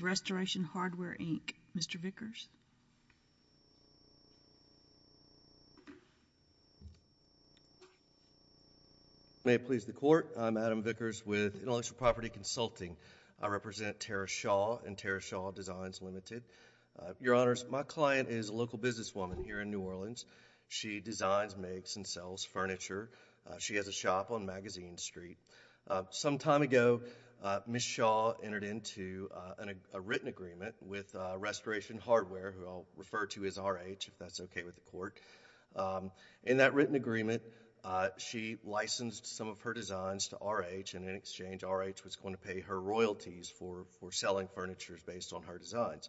Restoration Hardware, Inc. Mr. Vickers. May it please the Court, I'm Adam Vickers with Intellectual Property Consulting. I represent Tara Shaw and Tara Shaw Designs, Ltd. Your Honors, my client is a local businesswoman here in New Orleans. She designs, makes, and sells furniture. She has a shop on Magazine Street. Some time ago, Ms. Shaw entered into a written agreement with Restoration Hardware, who I'll refer to as RH, if that's okay with the Court. In that written agreement, she licensed some of her designs to RH, and in exchange, RH was going to pay her royalties for selling furniture based on her designs.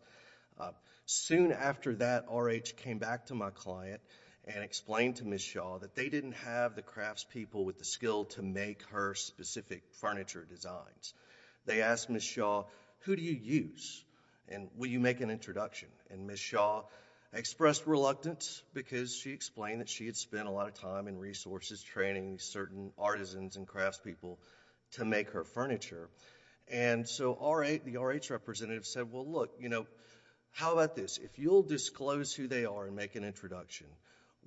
Soon after that, RH came back to my client and explained to Ms. Shaw that they didn't have the craftspeople with the skill to make her specific furniture designs. They asked Ms. Shaw, who do you use, and will you make an introduction? Ms. Shaw expressed reluctance because she explained that she had spent a lot of time and resources training certain artisans and craftspeople to make her furniture. The RH representative said, well, look, how about this? If you'll disclose who they are and make an introduction,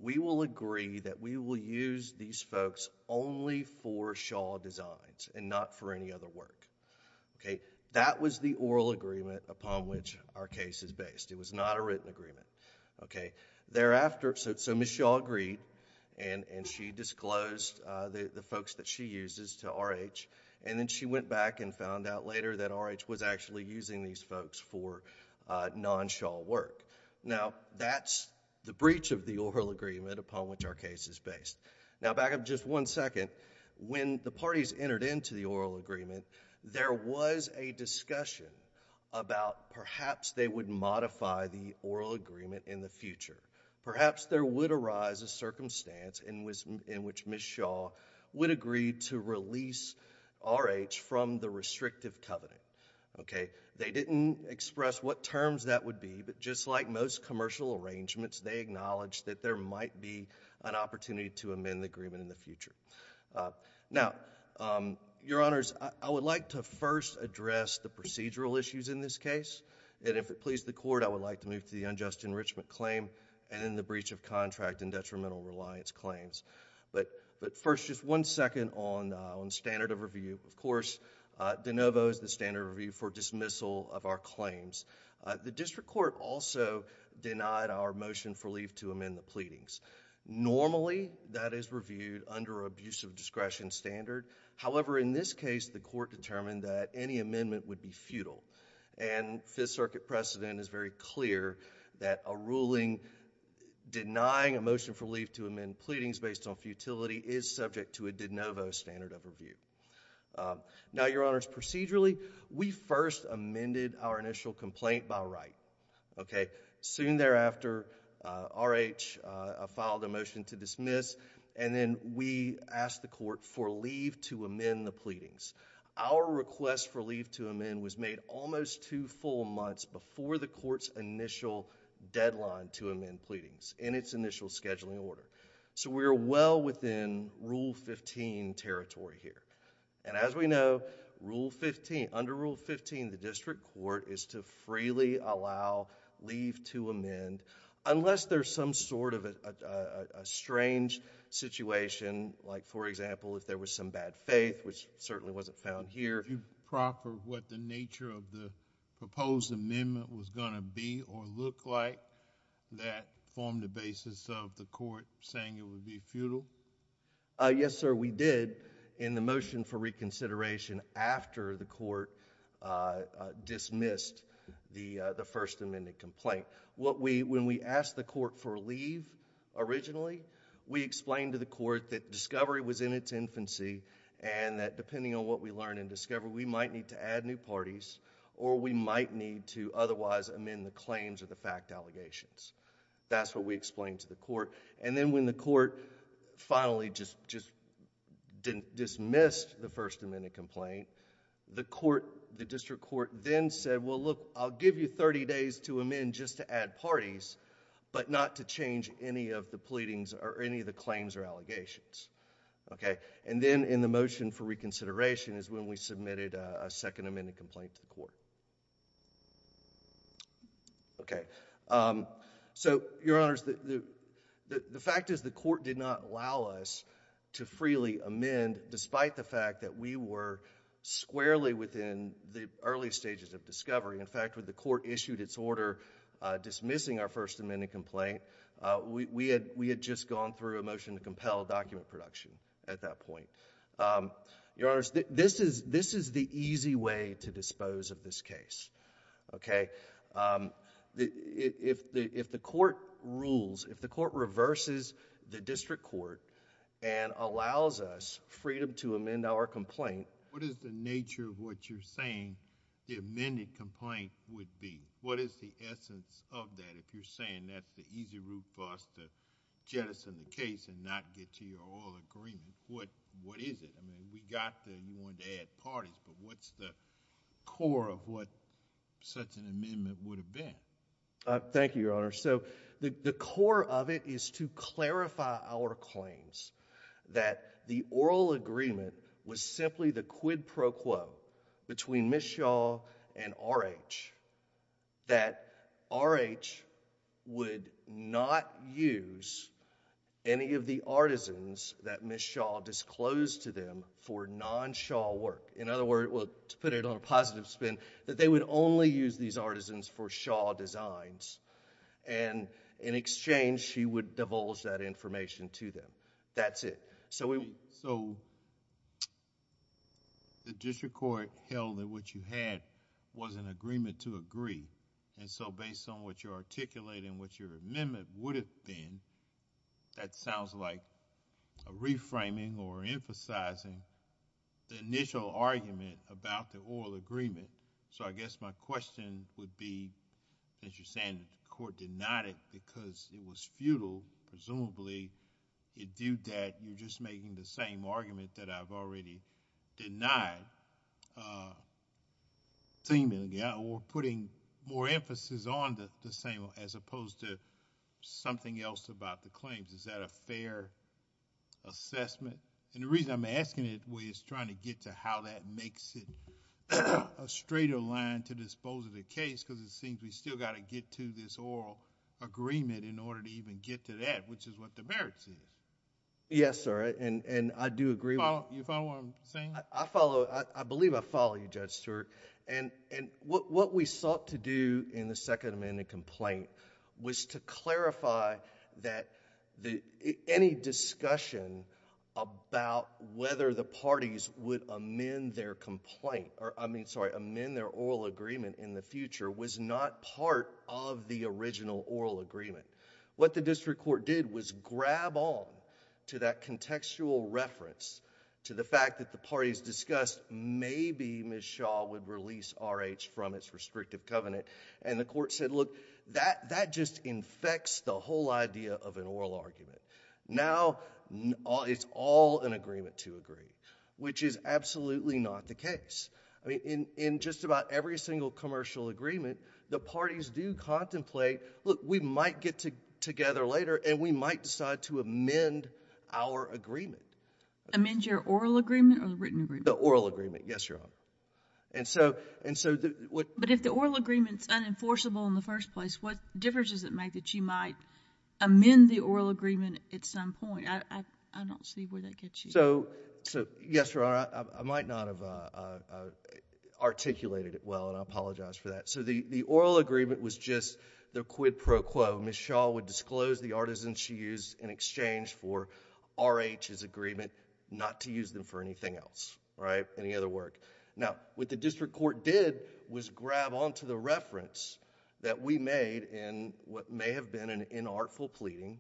we will agree that we will use these folks only for Shaw designs, and not for any other work. That was the oral agreement upon which our case is based. It was not a written agreement. Ms. Shaw agreed, and she disclosed the folks that she uses to RH. Then she went back and found out later that RH was actually using these folks for non-Shaw work. That's the breach of the oral agreement upon which our case is based. Back up just one second. When the parties entered into the oral agreement, there was a discussion about perhaps they would modify the oral agreement in the future. Perhaps there would arise a circumstance in which Ms. Shaw would agree to release RH from the restrictive covenant. They didn't express what terms that would be, but just like most commercial arrangements, they acknowledged that there might be an opportunity to amend the agreement in the future. Your Honors, I would like to first address the procedural issues in this case. If it pleases the Court, I would like to move to the unjust enrichment claim and then the breach of contract and detrimental reliance claims. First, just one second on standard of review. Of course, de novo is the standard of review for dismissal of our claims. The District Court also denied our motion for leave to amend the pleadings. Normally, that is reviewed under an abuse of discretion standard. However, in this case, the Court determined that any amendment would be futile. Fifth Circuit precedent is very clear that a ruling denying a motion for leave to amend pleadings based on futility is subject to a de novo standard of review. Now, Your Honors, procedurally, we first amended our initial complaint by right. Soon thereafter, RH filed a motion to dismiss, and then we asked the Court for leave to amend the pleadings. Our request for leave to amend was made almost two full months before the Court's initial deadline to amend pleadings, in its initial scheduling order. We are well within Rule 15 territory here. As we know, under Rule 15, the District Court is to freely allow leave to amend, unless there's some sort of a strange situation, like for example, if there was some bad faith, which certainly wasn't found here. Did you proper what the nature of the proposed amendment was going to be or look like that formed the basis of the Court saying it would be futile? Yes, sir, we did in the motion for reconsideration after the Court dismissed the First Amendment complaint. When we asked the Court for leave originally, we explained to the Court that in its infancy, and that depending on what we learn and discover, we might need to add new parties, or we might need to otherwise amend the claims or the fact allegations. That's what we explained to the Court. Then when the Court finally just dismissed the First Amendment complaint, the District Court then said, well, look, I'll give you thirty days to amend just to add parties, but not to change any of the pleadings or any of the pleadings. Then in the motion for reconsideration is when we submitted a second amendment complaint to the Court. The fact is the Court did not allow us to freely amend despite the fact that we were squarely within the early stages of discovery. In fact, when the Court issued its order dismissing our First Amendment complaint, we had just gone through a motion to compel document production at that point. Your Honor, this is the easy way to dispose of this case. If the Court rules, if the Court reverses the District Court and allows us freedom to amend our complaint... What is the nature of what you're saying the amended complaint would be? What is the essence of that if you're saying that's the easy route for us to jettison the case and not get to an amendment? What is it? I mean, you wanted to add parties, but what's the core of what such an amendment would have been? Thank you, Your Honor. The core of it is to clarify our claims that the oral agreement was simply the quid pro quo between Ms. Shaw and RH, that RH would not use any of the artisans that Ms. Shaw disclosed to them for non-Shaw work. In other words, to put it on a positive spin, that they would only use these artisans for Shaw designs. In exchange, she would divulge that information to them. That's it. The District Court held that what you had was an agreement to agree. Based on what you said, you're reframing or emphasizing the initial argument about the oral agreement. I guess my question would be, since you're saying that the court denied it because it was futile, presumably, it viewed that you're just making the same argument that I've already denied, or putting more emphasis on the same as opposed to something else about the claims. Is that a fair assessment? The reason I'm asking it is trying to get to how that makes it a straighter line to dispose of the case because it seems we still got to get to this oral agreement in order to even get to that, which is what the merits is. Yes, sir. I do agree... You follow what I'm saying? I believe I follow you, Judge Stewart. What we sought to do in the Second Amendment complaint was to clarify that any discussion about whether the parties would amend their oral agreement in the future was not part of the original oral agreement. What the District Court did was grab on to that contextual reference to the fact that the parties discussed, maybe Ms. Shaw would release R.H. from its restrictive covenant, and the court said, look, that just infects the whole idea of an oral argument. Now, it's all an agreement to agree, which is absolutely not the case. In just about every single commercial agreement, the parties do contemplate, look, we might get together later and we might decide to amend our agreement. Amend your oral agreement or written agreement? The oral agreement, yes, Your Honor. But if the oral agreement is unenforceable in the first place, what difference does it make that you might amend the oral agreement at some point? I don't see where that gets you. Yes, Your Honor. I might not have articulated it well, and I apologize for that. The oral agreement was just the quid pro quo. Ms. Shaw would disclose the artisans she used in exchange for R.H.'s agreement not to use them for anything else, any other work. Now, what the district court did was grab on to the reference that we made in what may have been an inartful pleading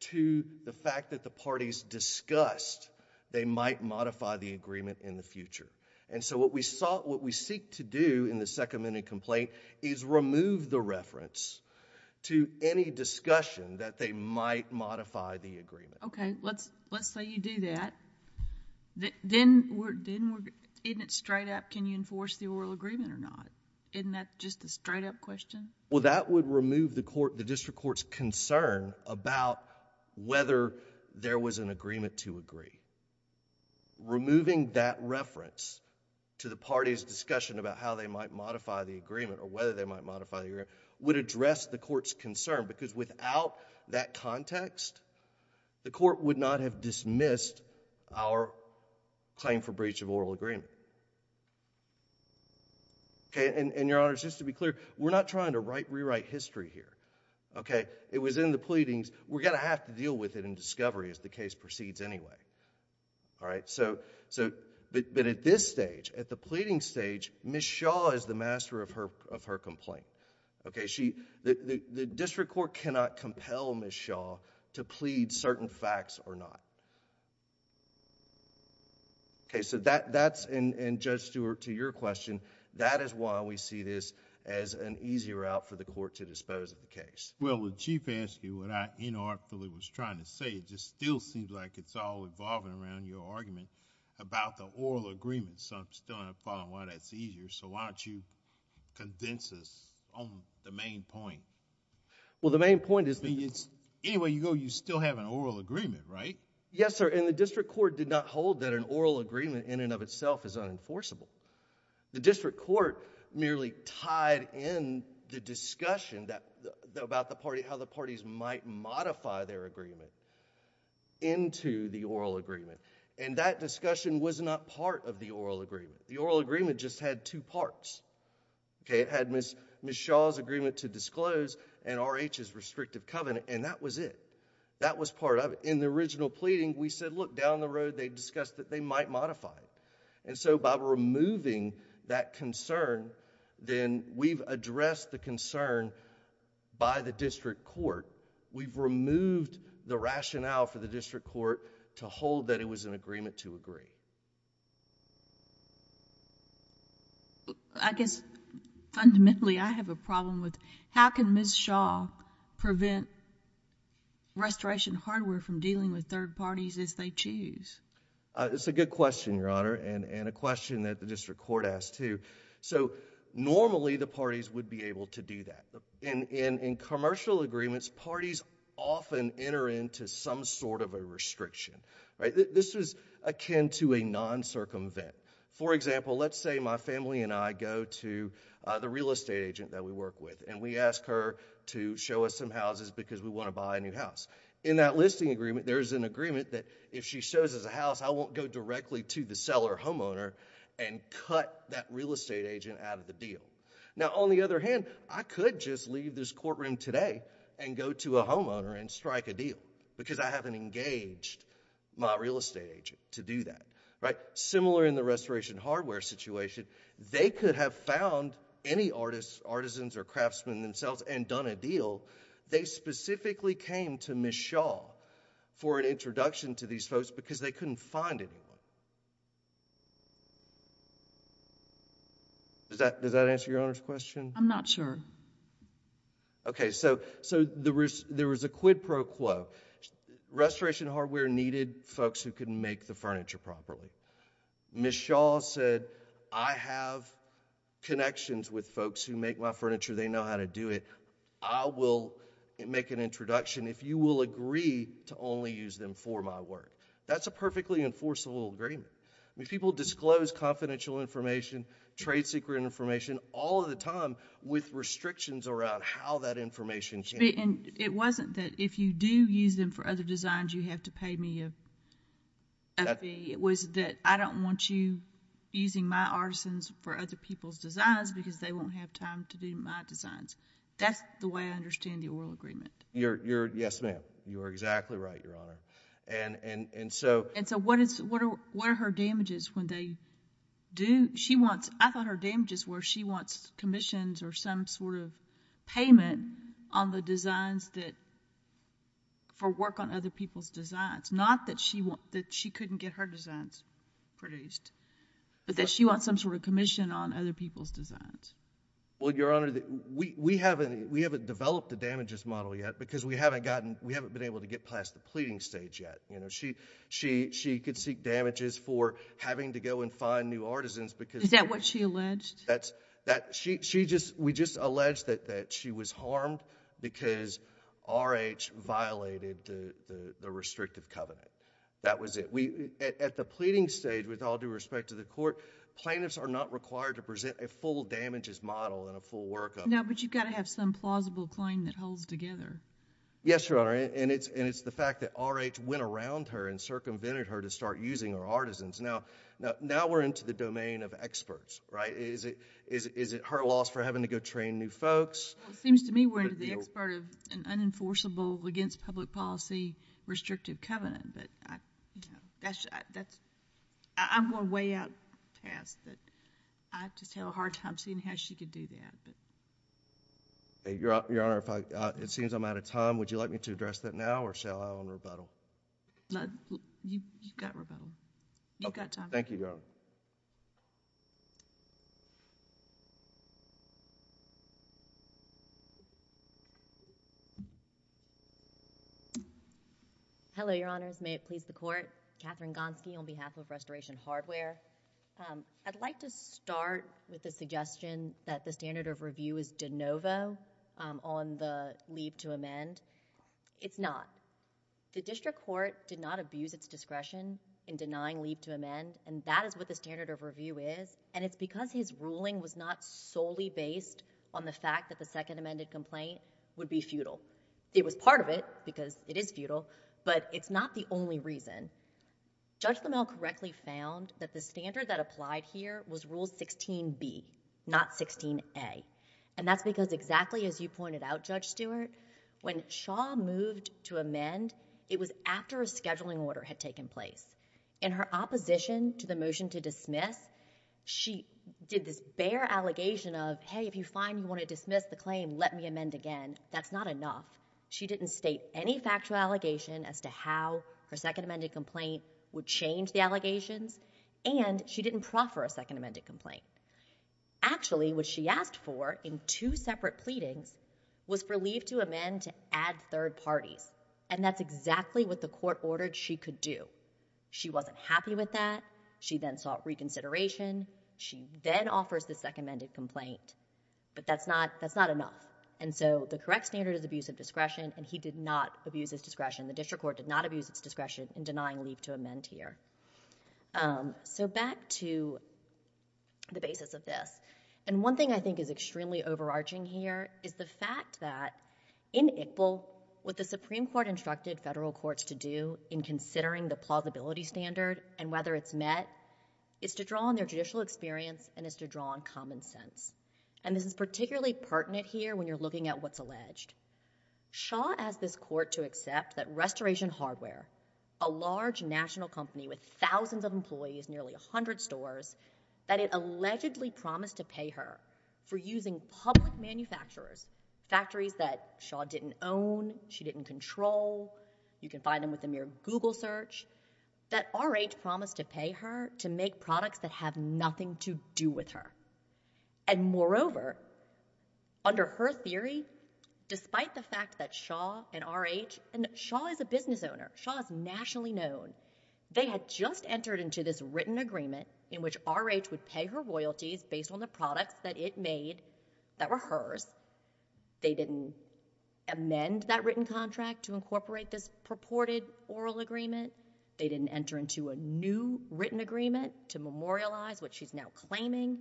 to the fact that the parties discussed they might modify the agreement in the future. What we sought, what we seek to do in the second amended complaint is remove the reference to any discussion that they might modify the agreement. Okay. Let's say you do that. Then, isn't it straight up, can you enforce the oral agreement or not? Isn't that just a straight up question? Well, that would remove the district court's concern about whether there was an agreement to agree. Removing that reference to the parties' discussion about how they might modify the agreement or whether they might modify the agreement would address the court's concern because without that context, the court would not have dismissed our claim for breach of oral agreement. Your Honor, just to be clear, we're not trying to rewrite history here. It was in the pleadings. We're going to have to deal with it in discovery as the case proceeds anyway. But at this stage, at the pleading stage, Ms. Shaw is the master of her case and her complaint. Okay. The district court cannot compel Ms. Shaw to plead certain facts or not. Okay. So that's, and Judge Stewart, to your question, that is why we see this as an easier route for the court to dispose of the case. Well, the Chief asked you what I inartfully was trying to say. It just still seems like it's all evolving around your argument about the oral agreement. So I'm still not following why that's easier. So why don't you condense this on the main point? Well, the main point is... Anyway you go, you still have an oral agreement, right? Yes, sir, and the district court did not hold that an oral agreement in and of itself is unenforceable. The district court merely tied in the discussion about how the parties might modify their agreement into the oral agreement. That discussion was not part of the oral agreement. The oral agreement just had two parts. Okay. It had Ms. Shaw's agreement to disclose and RH's restrictive covenant, and that was it. That was part of it. In the original pleading, we said, look, down the road they discussed that they might modify it. And so by removing that concern, then we've addressed the concern by the district court. We've removed the rationale for the district court to hold that it was an agreement to agree. I guess fundamentally I have a problem with how can Ms. Shaw prevent restoration hardware from dealing with third parties as they choose? It's a good question, Your Honor, and a question that the district court asked, too. So normally the parties would be able to do that. In commercial agreements, parties often enter into some sort of a restriction. This is akin to a non-circumvent. For example, let's say my family and I go to the real estate agent that we work with, and we ask her to show us some houses because we want to buy a new house. In that listing agreement, there is an agreement that if she shows us a house, I won't go directly to the seller or homeowner and cut that real estate agent out of the deal. Now, on the other hand, I could just leave this courtroom today and go to a homeowner and strike a deal because I haven't engaged my real estate agent to do that, right? Similar in the restoration hardware situation, they could have found any artisans or craftsmen themselves and done a deal. They specifically came to Ms. Shaw for an introduction to these folks because they couldn't find anyone. Does that answer Your Honor's question? I'm not sure. Okay, so there was a quid pro quo. Restoration hardware needed folks who can make the furniture properly. Ms. Shaw said, I have connections with folks who make my furniture. They know how to do it. I will make an introduction if you will agree to only use them for my work. That's a perfectly enforceable agreement. People disclose confidential information, trade secret information, all of the time with restrictions around how that information can... It wasn't that if you do use them for other designs, you have to pay me a fee. It was that I don't want you using my artisans for other people's designs because they won't have time to do my designs. That's the way I understand the oral agreement. Yes, ma'am. You are exactly right, Your Honor. What are her damages when they do... I thought her damages were she wants commissions or some sort of payment on the designs for work on other people's designs. Not that she couldn't get her designs produced, but that she wants some sort of commission on other people's designs. Your Honor, we haven't developed a damages model yet because we haven't been able to get past the pleading stage yet. She could seek damages for having to go and find new artisans because... Is that what she alleged? We just alleged that she was harmed because R.H. violated the restrictive covenant. That was it. At the pleading stage, with all due respect to the court, plaintiffs are not required to present a full damages model and a full workup. No, but you've got to have some plausible claim that holds together. Yes, Your Honor. It's the fact that R.H. went around her and circumvented her to start using her artisans. Now we're into the domain of experts. Is it her loss for having to go train new folks? It seems to me we're into the expert of an unenforceable, against public policy, restrictive covenant. I'm going way out past that. I just had a hard time seeing how she could do that. Your Honor, it seems I'm out of time. Would you like me to address that now or shall I go on rebuttal? You've got rebuttal. You've got time. Thank you, Your Honor. Hello, Your Honors. May it please the court. Katherine Gonski on behalf of Restoration Hardware. I'd like to start with the suggestion that the standard of review is de novo on the leave to amend. It's not. The district court did not abuse its discretion in denying leave to amend, and that is what the standard of review is, and it's because his ruling was not solely based on the fact that the second amended complaint would be futile. It was part of it because it is futile, but it's not the only reason. Judge Lamel correctly found that the standard that applied here was Rule 16B, not 16A, and that's because exactly as you pointed out, Judge Stewart, when Shaw moved to amend, it was after a scheduling order had taken place. In her opposition to the motion to dismiss, she did this bare allegation of, hey, if you find you want to dismiss the claim, let me amend again. That's not enough. She didn't state any factual allegation as to how her second amended complaint would change the allegations, and she didn't proffer a second amended complaint. Actually, what she asked for in two separate pleadings was for leave to amend to add third parties, and that's exactly what the court ordered she could do. She wasn't happy with that. She then sought reconsideration. She then offers the second amended complaint, but that's not enough, and so the correct standard is abuse of discretion, and he did not abuse his discretion. The district court did not abuse its discretion in denying leave to amend here. So back to the basis of this, and one thing I think is extremely overarching here is the fact that in Iqbal, what the Supreme Court instructed federal courts to do in considering the plausibility standard and whether it's met is to draw on their judicial experience and is to draw on common sense, and this is particularly pertinent here when you're looking at what's alleged. Shaw asked this court to accept that Restoration Hardware, a large national company with thousands of employees, nearly 100 stores, that it allegedly promised to pay her for using public manufacturers, factories that Shaw didn't own, she didn't control, you can find them with a mere Google search, that R.H. promised to pay her to make Despite the fact that Shaw and R.H., and Shaw is a business owner, Shaw is nationally known, they had just entered into this written agreement in which R.H. would pay her royalties based on the products that it made that were hers. They didn't amend that written contract to incorporate this purported oral agreement. They didn't enter into a new written agreement to memorialize what she's now claiming.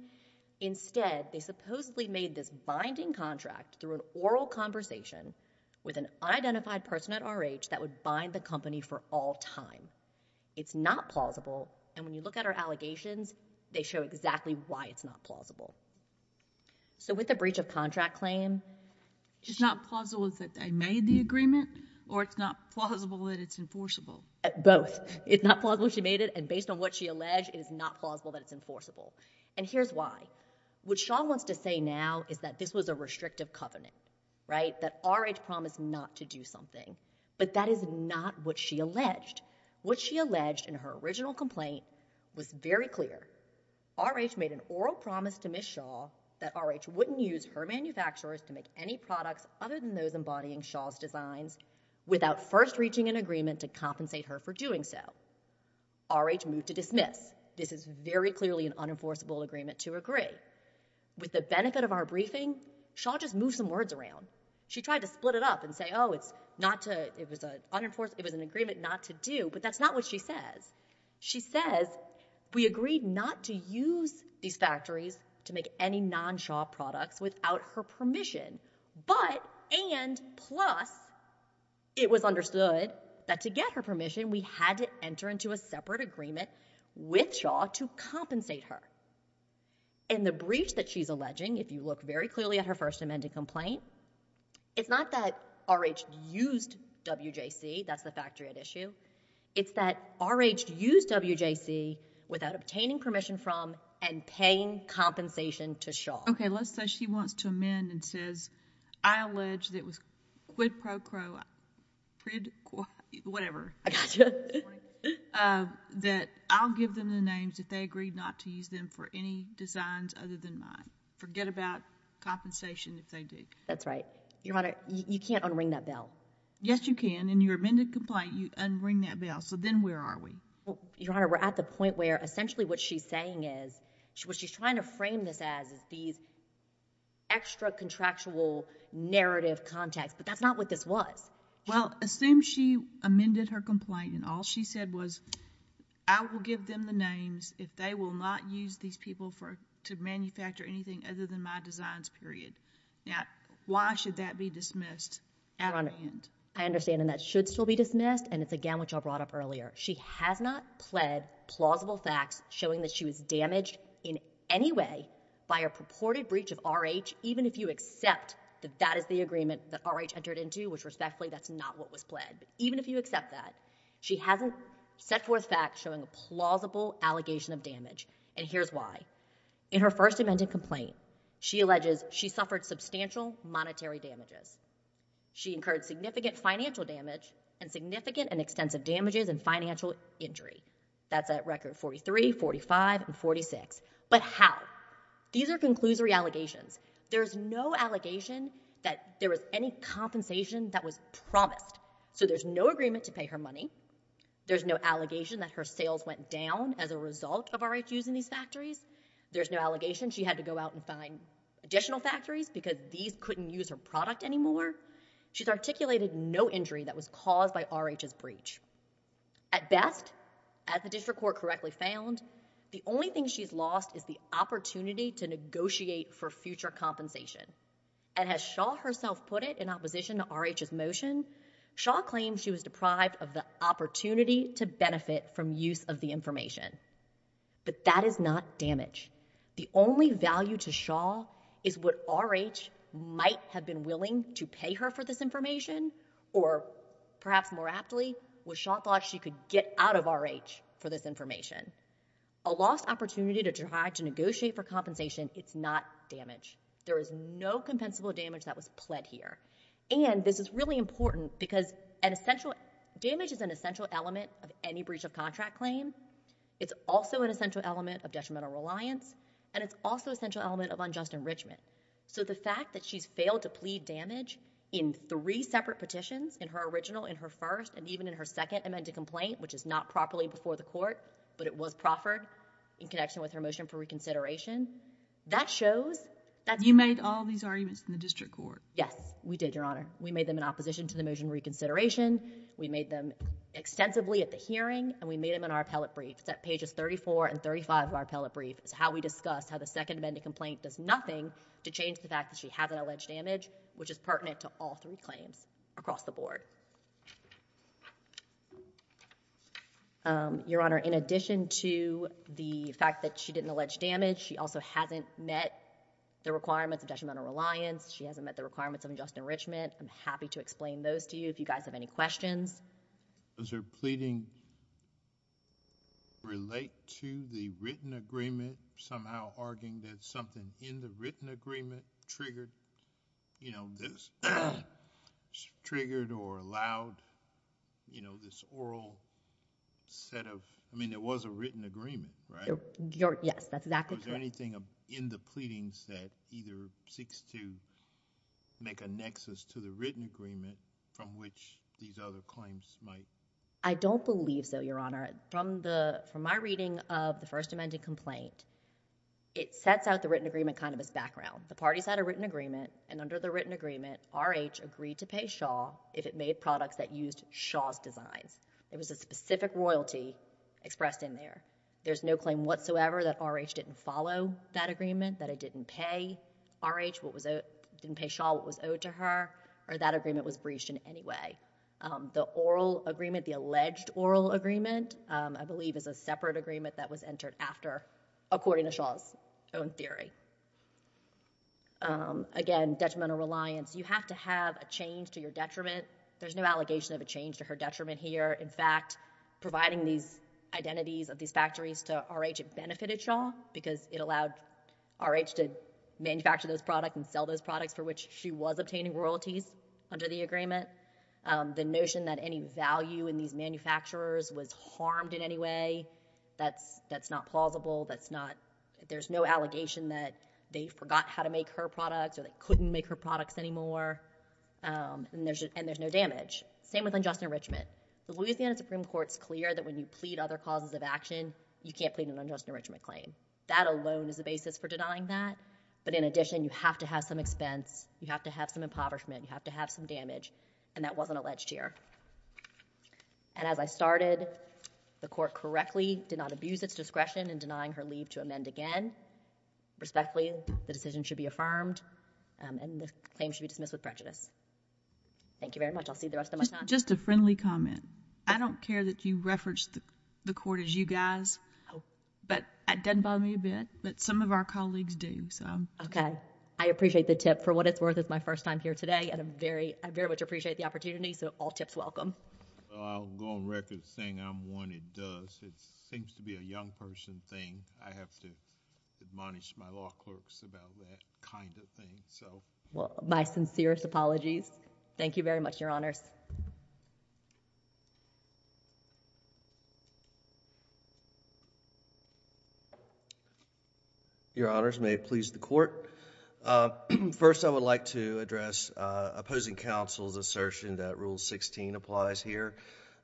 Instead, they supposedly made this binding contract through an oral conversation with an unidentified person at R.H. that would bind the company for all time. It's not plausible, and when you look at her allegations, they show exactly why it's not plausible. So with the breach of contract claim, it's not plausible that they made the agreement, or it's not plausible that it's enforceable? Both. It's not plausible she made it, and based on what she alleged, it is not plausible that it's enforceable. And here's why. What Shaw wants to say now is that this was a restrictive covenant, right? That R.H. promised not to do something. But that is not what she alleged. What she alleged in her original complaint was very clear. R.H. made an oral promise to Ms. Shaw that R.H. wouldn't use her manufacturers to make any products other than those embodying Shaw's designs without first reaching an agreement to compensate her for doing so. R.H. moved to dismiss. This is very clearly an unenforceable agreement to agree. With the benefit of our briefing, Shaw just moved some words around. She tried to split it up and say, oh, it's not to, it was an agreement not to do, but that's not what she says. She says, we agreed not to use these factories to make any non-Shaw products without her permission, but and plus it was understood that to get her permission, we had to enter into a separate agreement with Shaw to compensate her. And the breach that she's alleging, if you look very clearly at her first amended complaint, it's not that R.H. used W.J.C., that's the factory at issue. It's that R.H. used W.J.C. without obtaining permission from and paying compensation to Crowe, whatever, that I'll give them the names if they agree not to use them for any designs other than mine. Forget about compensation if they do. That's right. Your Honor, you can't un-ring that bell. Yes, you can. In your amended complaint, you un-ring that bell, so then where are we? Your Honor, we're at the point where essentially what she's saying is, what she's trying to frame this as is these extra contractual narrative contexts, but that's not what this was. Well, assume she amended her complaint and all she said was I will give them the names if they will not use these people to manufacture anything other than my designs, period. Now, why should that be dismissed at hand? Your Honor, I understand and that should still be dismissed and it's again what y'all brought up earlier. She has not pled plausible facts showing that she was damaged in any way by a purported breach of R.H. even if you accept that that is the agreement that R.H. entered into, which respectfully that's not what was pled, but even if you accept that, she hasn't set forth facts showing a plausible allegation of damage and here's why. In her first amended complaint, she alleges she suffered substantial monetary damages. She incurred significant financial damage and significant and extensive damages and financial injury. That's at record 43, 45, and 46, but how? These are conclusory allegations. There's no allegation that there was any compensation that was promised, so there's no agreement to pay her money. There's no allegation that her sales went down as a result of R.H. using these factories. There's no allegation she had to go out and find additional factories because these couldn't use her product anymore. She's articulated no injury that was caused by R.H.'s breach. At best, as the district court correctly found, the only thing she's lost is the opportunity to negotiate for future compensation and as Shaw herself put it in opposition to R.H.'s motion, Shaw claims she was deprived of the opportunity to benefit from use of the information, but that is not damage. The only value to Shaw is what R.H. might have been willing to pay her for this information or perhaps more aptly, what Shaw thought she could get out of R.H. for this information. A lost opportunity to try to negotiate for compensation, it's not damage. There is no compensable damage that was pled here, and this is really important because damage is an essential element of any breach of contract claim. It's also an essential element of detrimental reliance, and it's also an essential element of unjust enrichment, so the fact that she's failed to plead damage in three separate petitions, in her original, in her first, and even in her second amended complaint, which is not properly before the court, but it was proffered in connection with her motion for reconsideration, that shows that's... You made all these arguments in the district court. Yes, we did, Your Honor. We made them in opposition to the motion for reconsideration. We made them extensively at the hearing, and we made them in our appellate brief. It's at pages 34 and 35 of our appellate brief. It's how we discussed how the second amended complaint does nothing to change the fact that she hasn't alleged damage, which is pertinent to all three claims across the board. Your Honor, in addition to the fact that she didn't allege damage, she also hasn't met the requirements of detrimental reliance. She hasn't met the requirements of unjust enrichment. I'm happy to explain those to you if you guys have any questions. Does her pleading relate to the written agreement, somehow arguing that something in the written agreement triggered or allowed this oral set of... I mean, there was a written agreement, right? Yes, that's exactly true. Was there anything in the pleadings that either seeks to make a nexus to the written agreement from which these other claims might... I don't believe so, Your Honor. From my reading of the first amended complaint, it sets out the written agreement kind of as background. The parties had a written agreement, and under the written agreement, R.H. agreed to pay Shaw if it made products that used Shaw's designs. It was a specific royalty expressed in there. There's no claim whatsoever that R.H. didn't follow that agreement, that it didn't pay R.H., didn't pay Shaw what was owed to her, or that agreement was breached in any way. The oral agreement, the alleged oral agreement, I believe is a separate agreement that was entered after, according to Shaw's own theory. Again, detrimental reliance. You have to have a change to your detriment. There's no allegation of a change to her detriment here. In fact, providing these identities of these factories to R.H., it benefited Shaw because it allowed R.H. to manufacture those products and sell those products for which she was obtaining royalties under the agreement. The notion that any value in these manufacturers was harmed in any way, that's not plausible. That's not, there's no allegation that they forgot how to make her products or they couldn't make her products anymore. Um, and there's no damage. Same with unjust enrichment. The Louisiana Supreme Court's clear that when you plead other causes of action, you can't plead an unjust enrichment claim. That alone is a basis for denying that, but in addition, you have to have some expense, you have to have some impoverishment, you have to have some damage, and that wasn't alleged here. And as I started, the court correctly did not abuse its discretion in denying her leave to amend again. Respectfully, the decision should be affirmed, um, and the claim should be dismissed with prejudice. Thank you very much. I'll see you the rest of my time. Just a friendly comment. I don't care that you reference the court as you guys, but that doesn't bother me a bit, but some of our colleagues do, so. Okay. I appreciate the tip. For what it's worth, it's my first time here today, and I'm very, I very much appreciate the opportunity, so all tips welcome. Well, I'll go on record as saying I'm one that does. It seems to be a young person thing. I have to admonish my law clerks about that kind of thing, so. My sincerest apologies. Thank you very much, Your Honors. Your Honors, may it please the court. First, I would like to address opposing counsel's rule 16 applies here.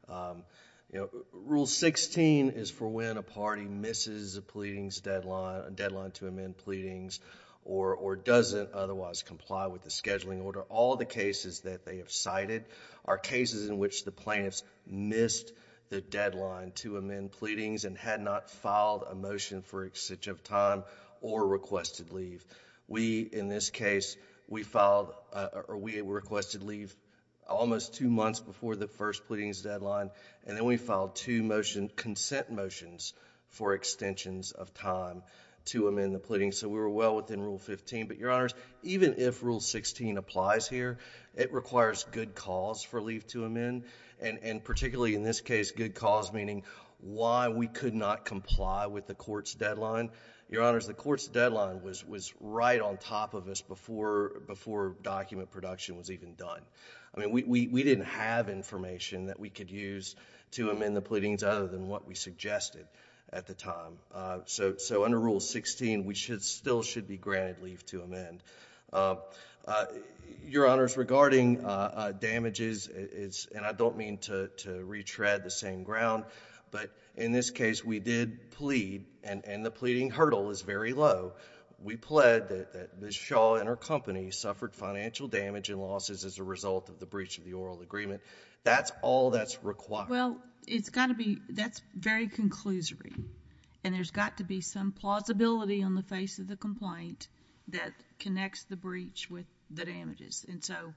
Um, you know, rule 16 is for when a party misses a pleadings deadline, a deadline to amend pleadings, or, or doesn't otherwise comply with the scheduling order. All the cases that they have cited are cases in which the plaintiffs missed the deadline to amend pleadings and had not filed a motion for excess of time or requested leave. We, in this case, we filed, uh, or we requested leave almost two months before the first pleadings deadline, and then we filed two motion, consent motions for extensions of time to amend the pleadings, so we were well within rule 15, but Your Honors, even if rule 16 applies here, it requires good cause for leave to amend, and, and particularly in this case, good cause meaning why we could not comply with the court's deadline. Your Honors, the court's deadline was, was right on top of us before, before document production was even done. I mean, we, we, we didn't have information that we could use to amend the pleadings other than what we suggested at the time. Uh, so, so under rule 16, we should still should be granted leave to amend. Uh, uh, Your Honors, regarding, uh, uh, damages, it's, and I don't mean to, to retread the same ground, but in this case, we did plead, and, and the pleading hurdle is very low. We pled that Ms. Shaw and her company suffered financial damage and losses as a result of the breach of the oral agreement. That's all that's required. Well, it's got to be, that's very conclusory, and there's got to be some plausibility on the face of the complaint that connects the breach with the damages, and so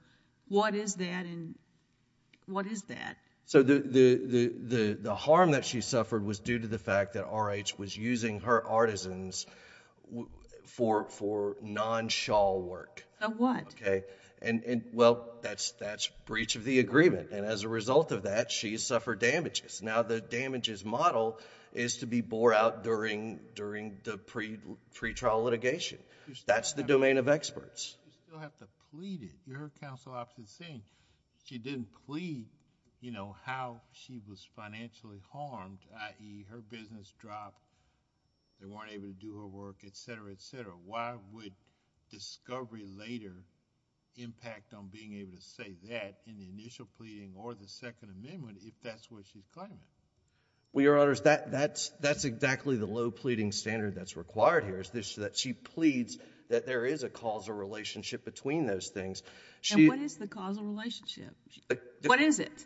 what is that, and what is that? So the, the, the, the harm that she suffered was due to the fact that RH was using her artisans for, for non-Shaw work. Now, what? Okay, and, and, well, that's, that's breach of the agreement, and as a result of that, she suffered damages. Now, the damages model is to be bore out during, during the pre, pre-trial litigation. That's the domain of experts. You still have to plead it. Your counsel opposite is saying she didn't plead, you know, how she was financially harmed, i.e., her business dropped, they weren't able to do her work, etc., etc. Why would discovery later impact on being able to say that in the initial pleading or the Second Amendment if that's what she's claiming? Well, Your Honors, that, that's, that's exactly the low pleading standard that's required here is this, that she pleads that there is a causal relationship between those things. She... What is it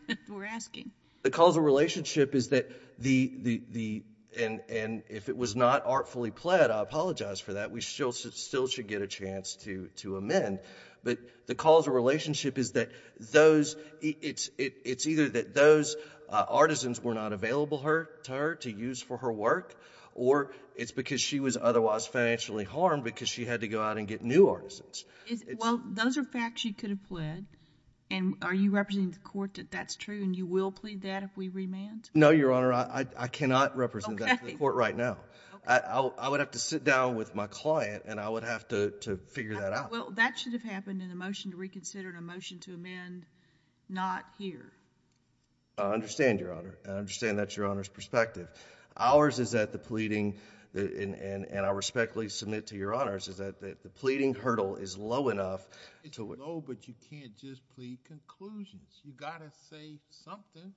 that we're asking? The causal relationship is that the, the, the, and, and if it was not artfully pled, I apologize for that. We still, still should get a chance to, to amend, but the causal relationship is that those, it's, it, it's either that those artisans were not available her, to her, to use for her work, or it's because she was otherwise financially harmed because she had to go out and get new artisans. Is, well, those are facts you could have pled, and are you representing the court that that's true and you will plead that if we remand? No, Your Honor, I, I cannot represent that to the court right now. I, I would have to sit down with my client and I would have to, to figure that out. Well, that should have happened in a motion to reconsider and a motion to amend not here. I understand, Your Honor. I understand that's Your Honor's perspective. Ours is that the pleading, the, and, and, and I respectfully submit to Your Honors is that the, the pleading hurdle is low enough to... It's low, but you can't just plead conclusions. You've got to say something.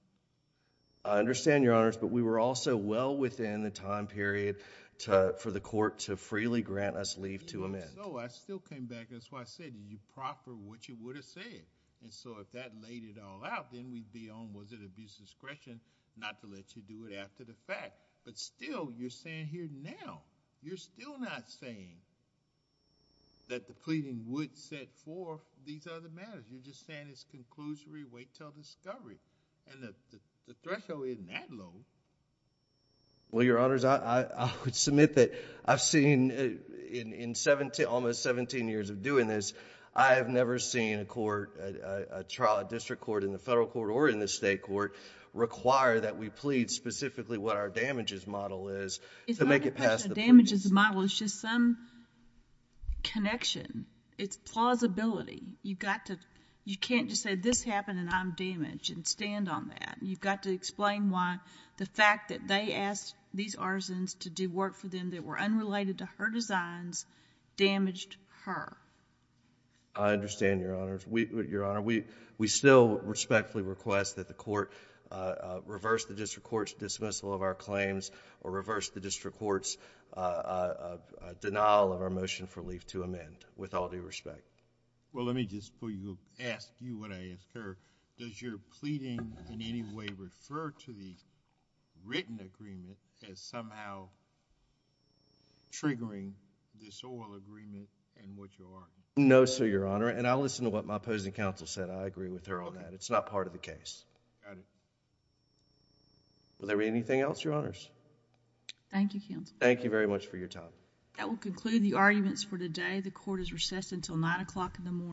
I understand, Your Honors, but we were also well within the time period to, for the court to freely grant us leave to amend. Even so, I still came back, that's why I said, did you proffer what you would have said? And so, if that laid it all out, then we'd be on, was it abuse of discretion not to let you do it after the fact. But still, you're saying here now, you're still not saying that... That's right.... That's right.... That's right.... That's right.... And you're saying that the pleading would set forth these other matters. You're just saying it's conclusory, wait until discovery. And the, the threshold isn't that low. Well, Your Honors, I, I, I would submit that I've seen in, in 17, almost 17 years of doing this, I have never seen a court, a, a, a trial, a district court, in the federal court, or in the state court, require that we plead specifically what our damages model is to make it past...... It's a question. It's plausibility. You've got to, you can't just say, this happened and I'm damaged, and stand on that. You've got to explain why the fact that they asked these arsons to do work for them that were unrelated to her designs, damaged her. I understand, Your Honors. We, Your Honor, we, we still respectfully request that the court, uh, uh, reverse the district court's dismissal of our claims, or reverse the district court's, uh, uh, uh, denial of our motion for leave to amend, with all due respect. Well, let me just put you, ask you what I ask her. Does your pleading in any way refer to the written agreement as somehow triggering this oral agreement and what you are arguing? No, sir, Your Honor, and I'll listen to what my opposing counsel said. I agree with her on that. Okay. It's not part of the case. Got it. Will there be anything else, Your Honors? Thank you, Counselor. Thank you very much for your time. That will conclude the arguments for today. The court is recessed until 9 o'clock in the morning.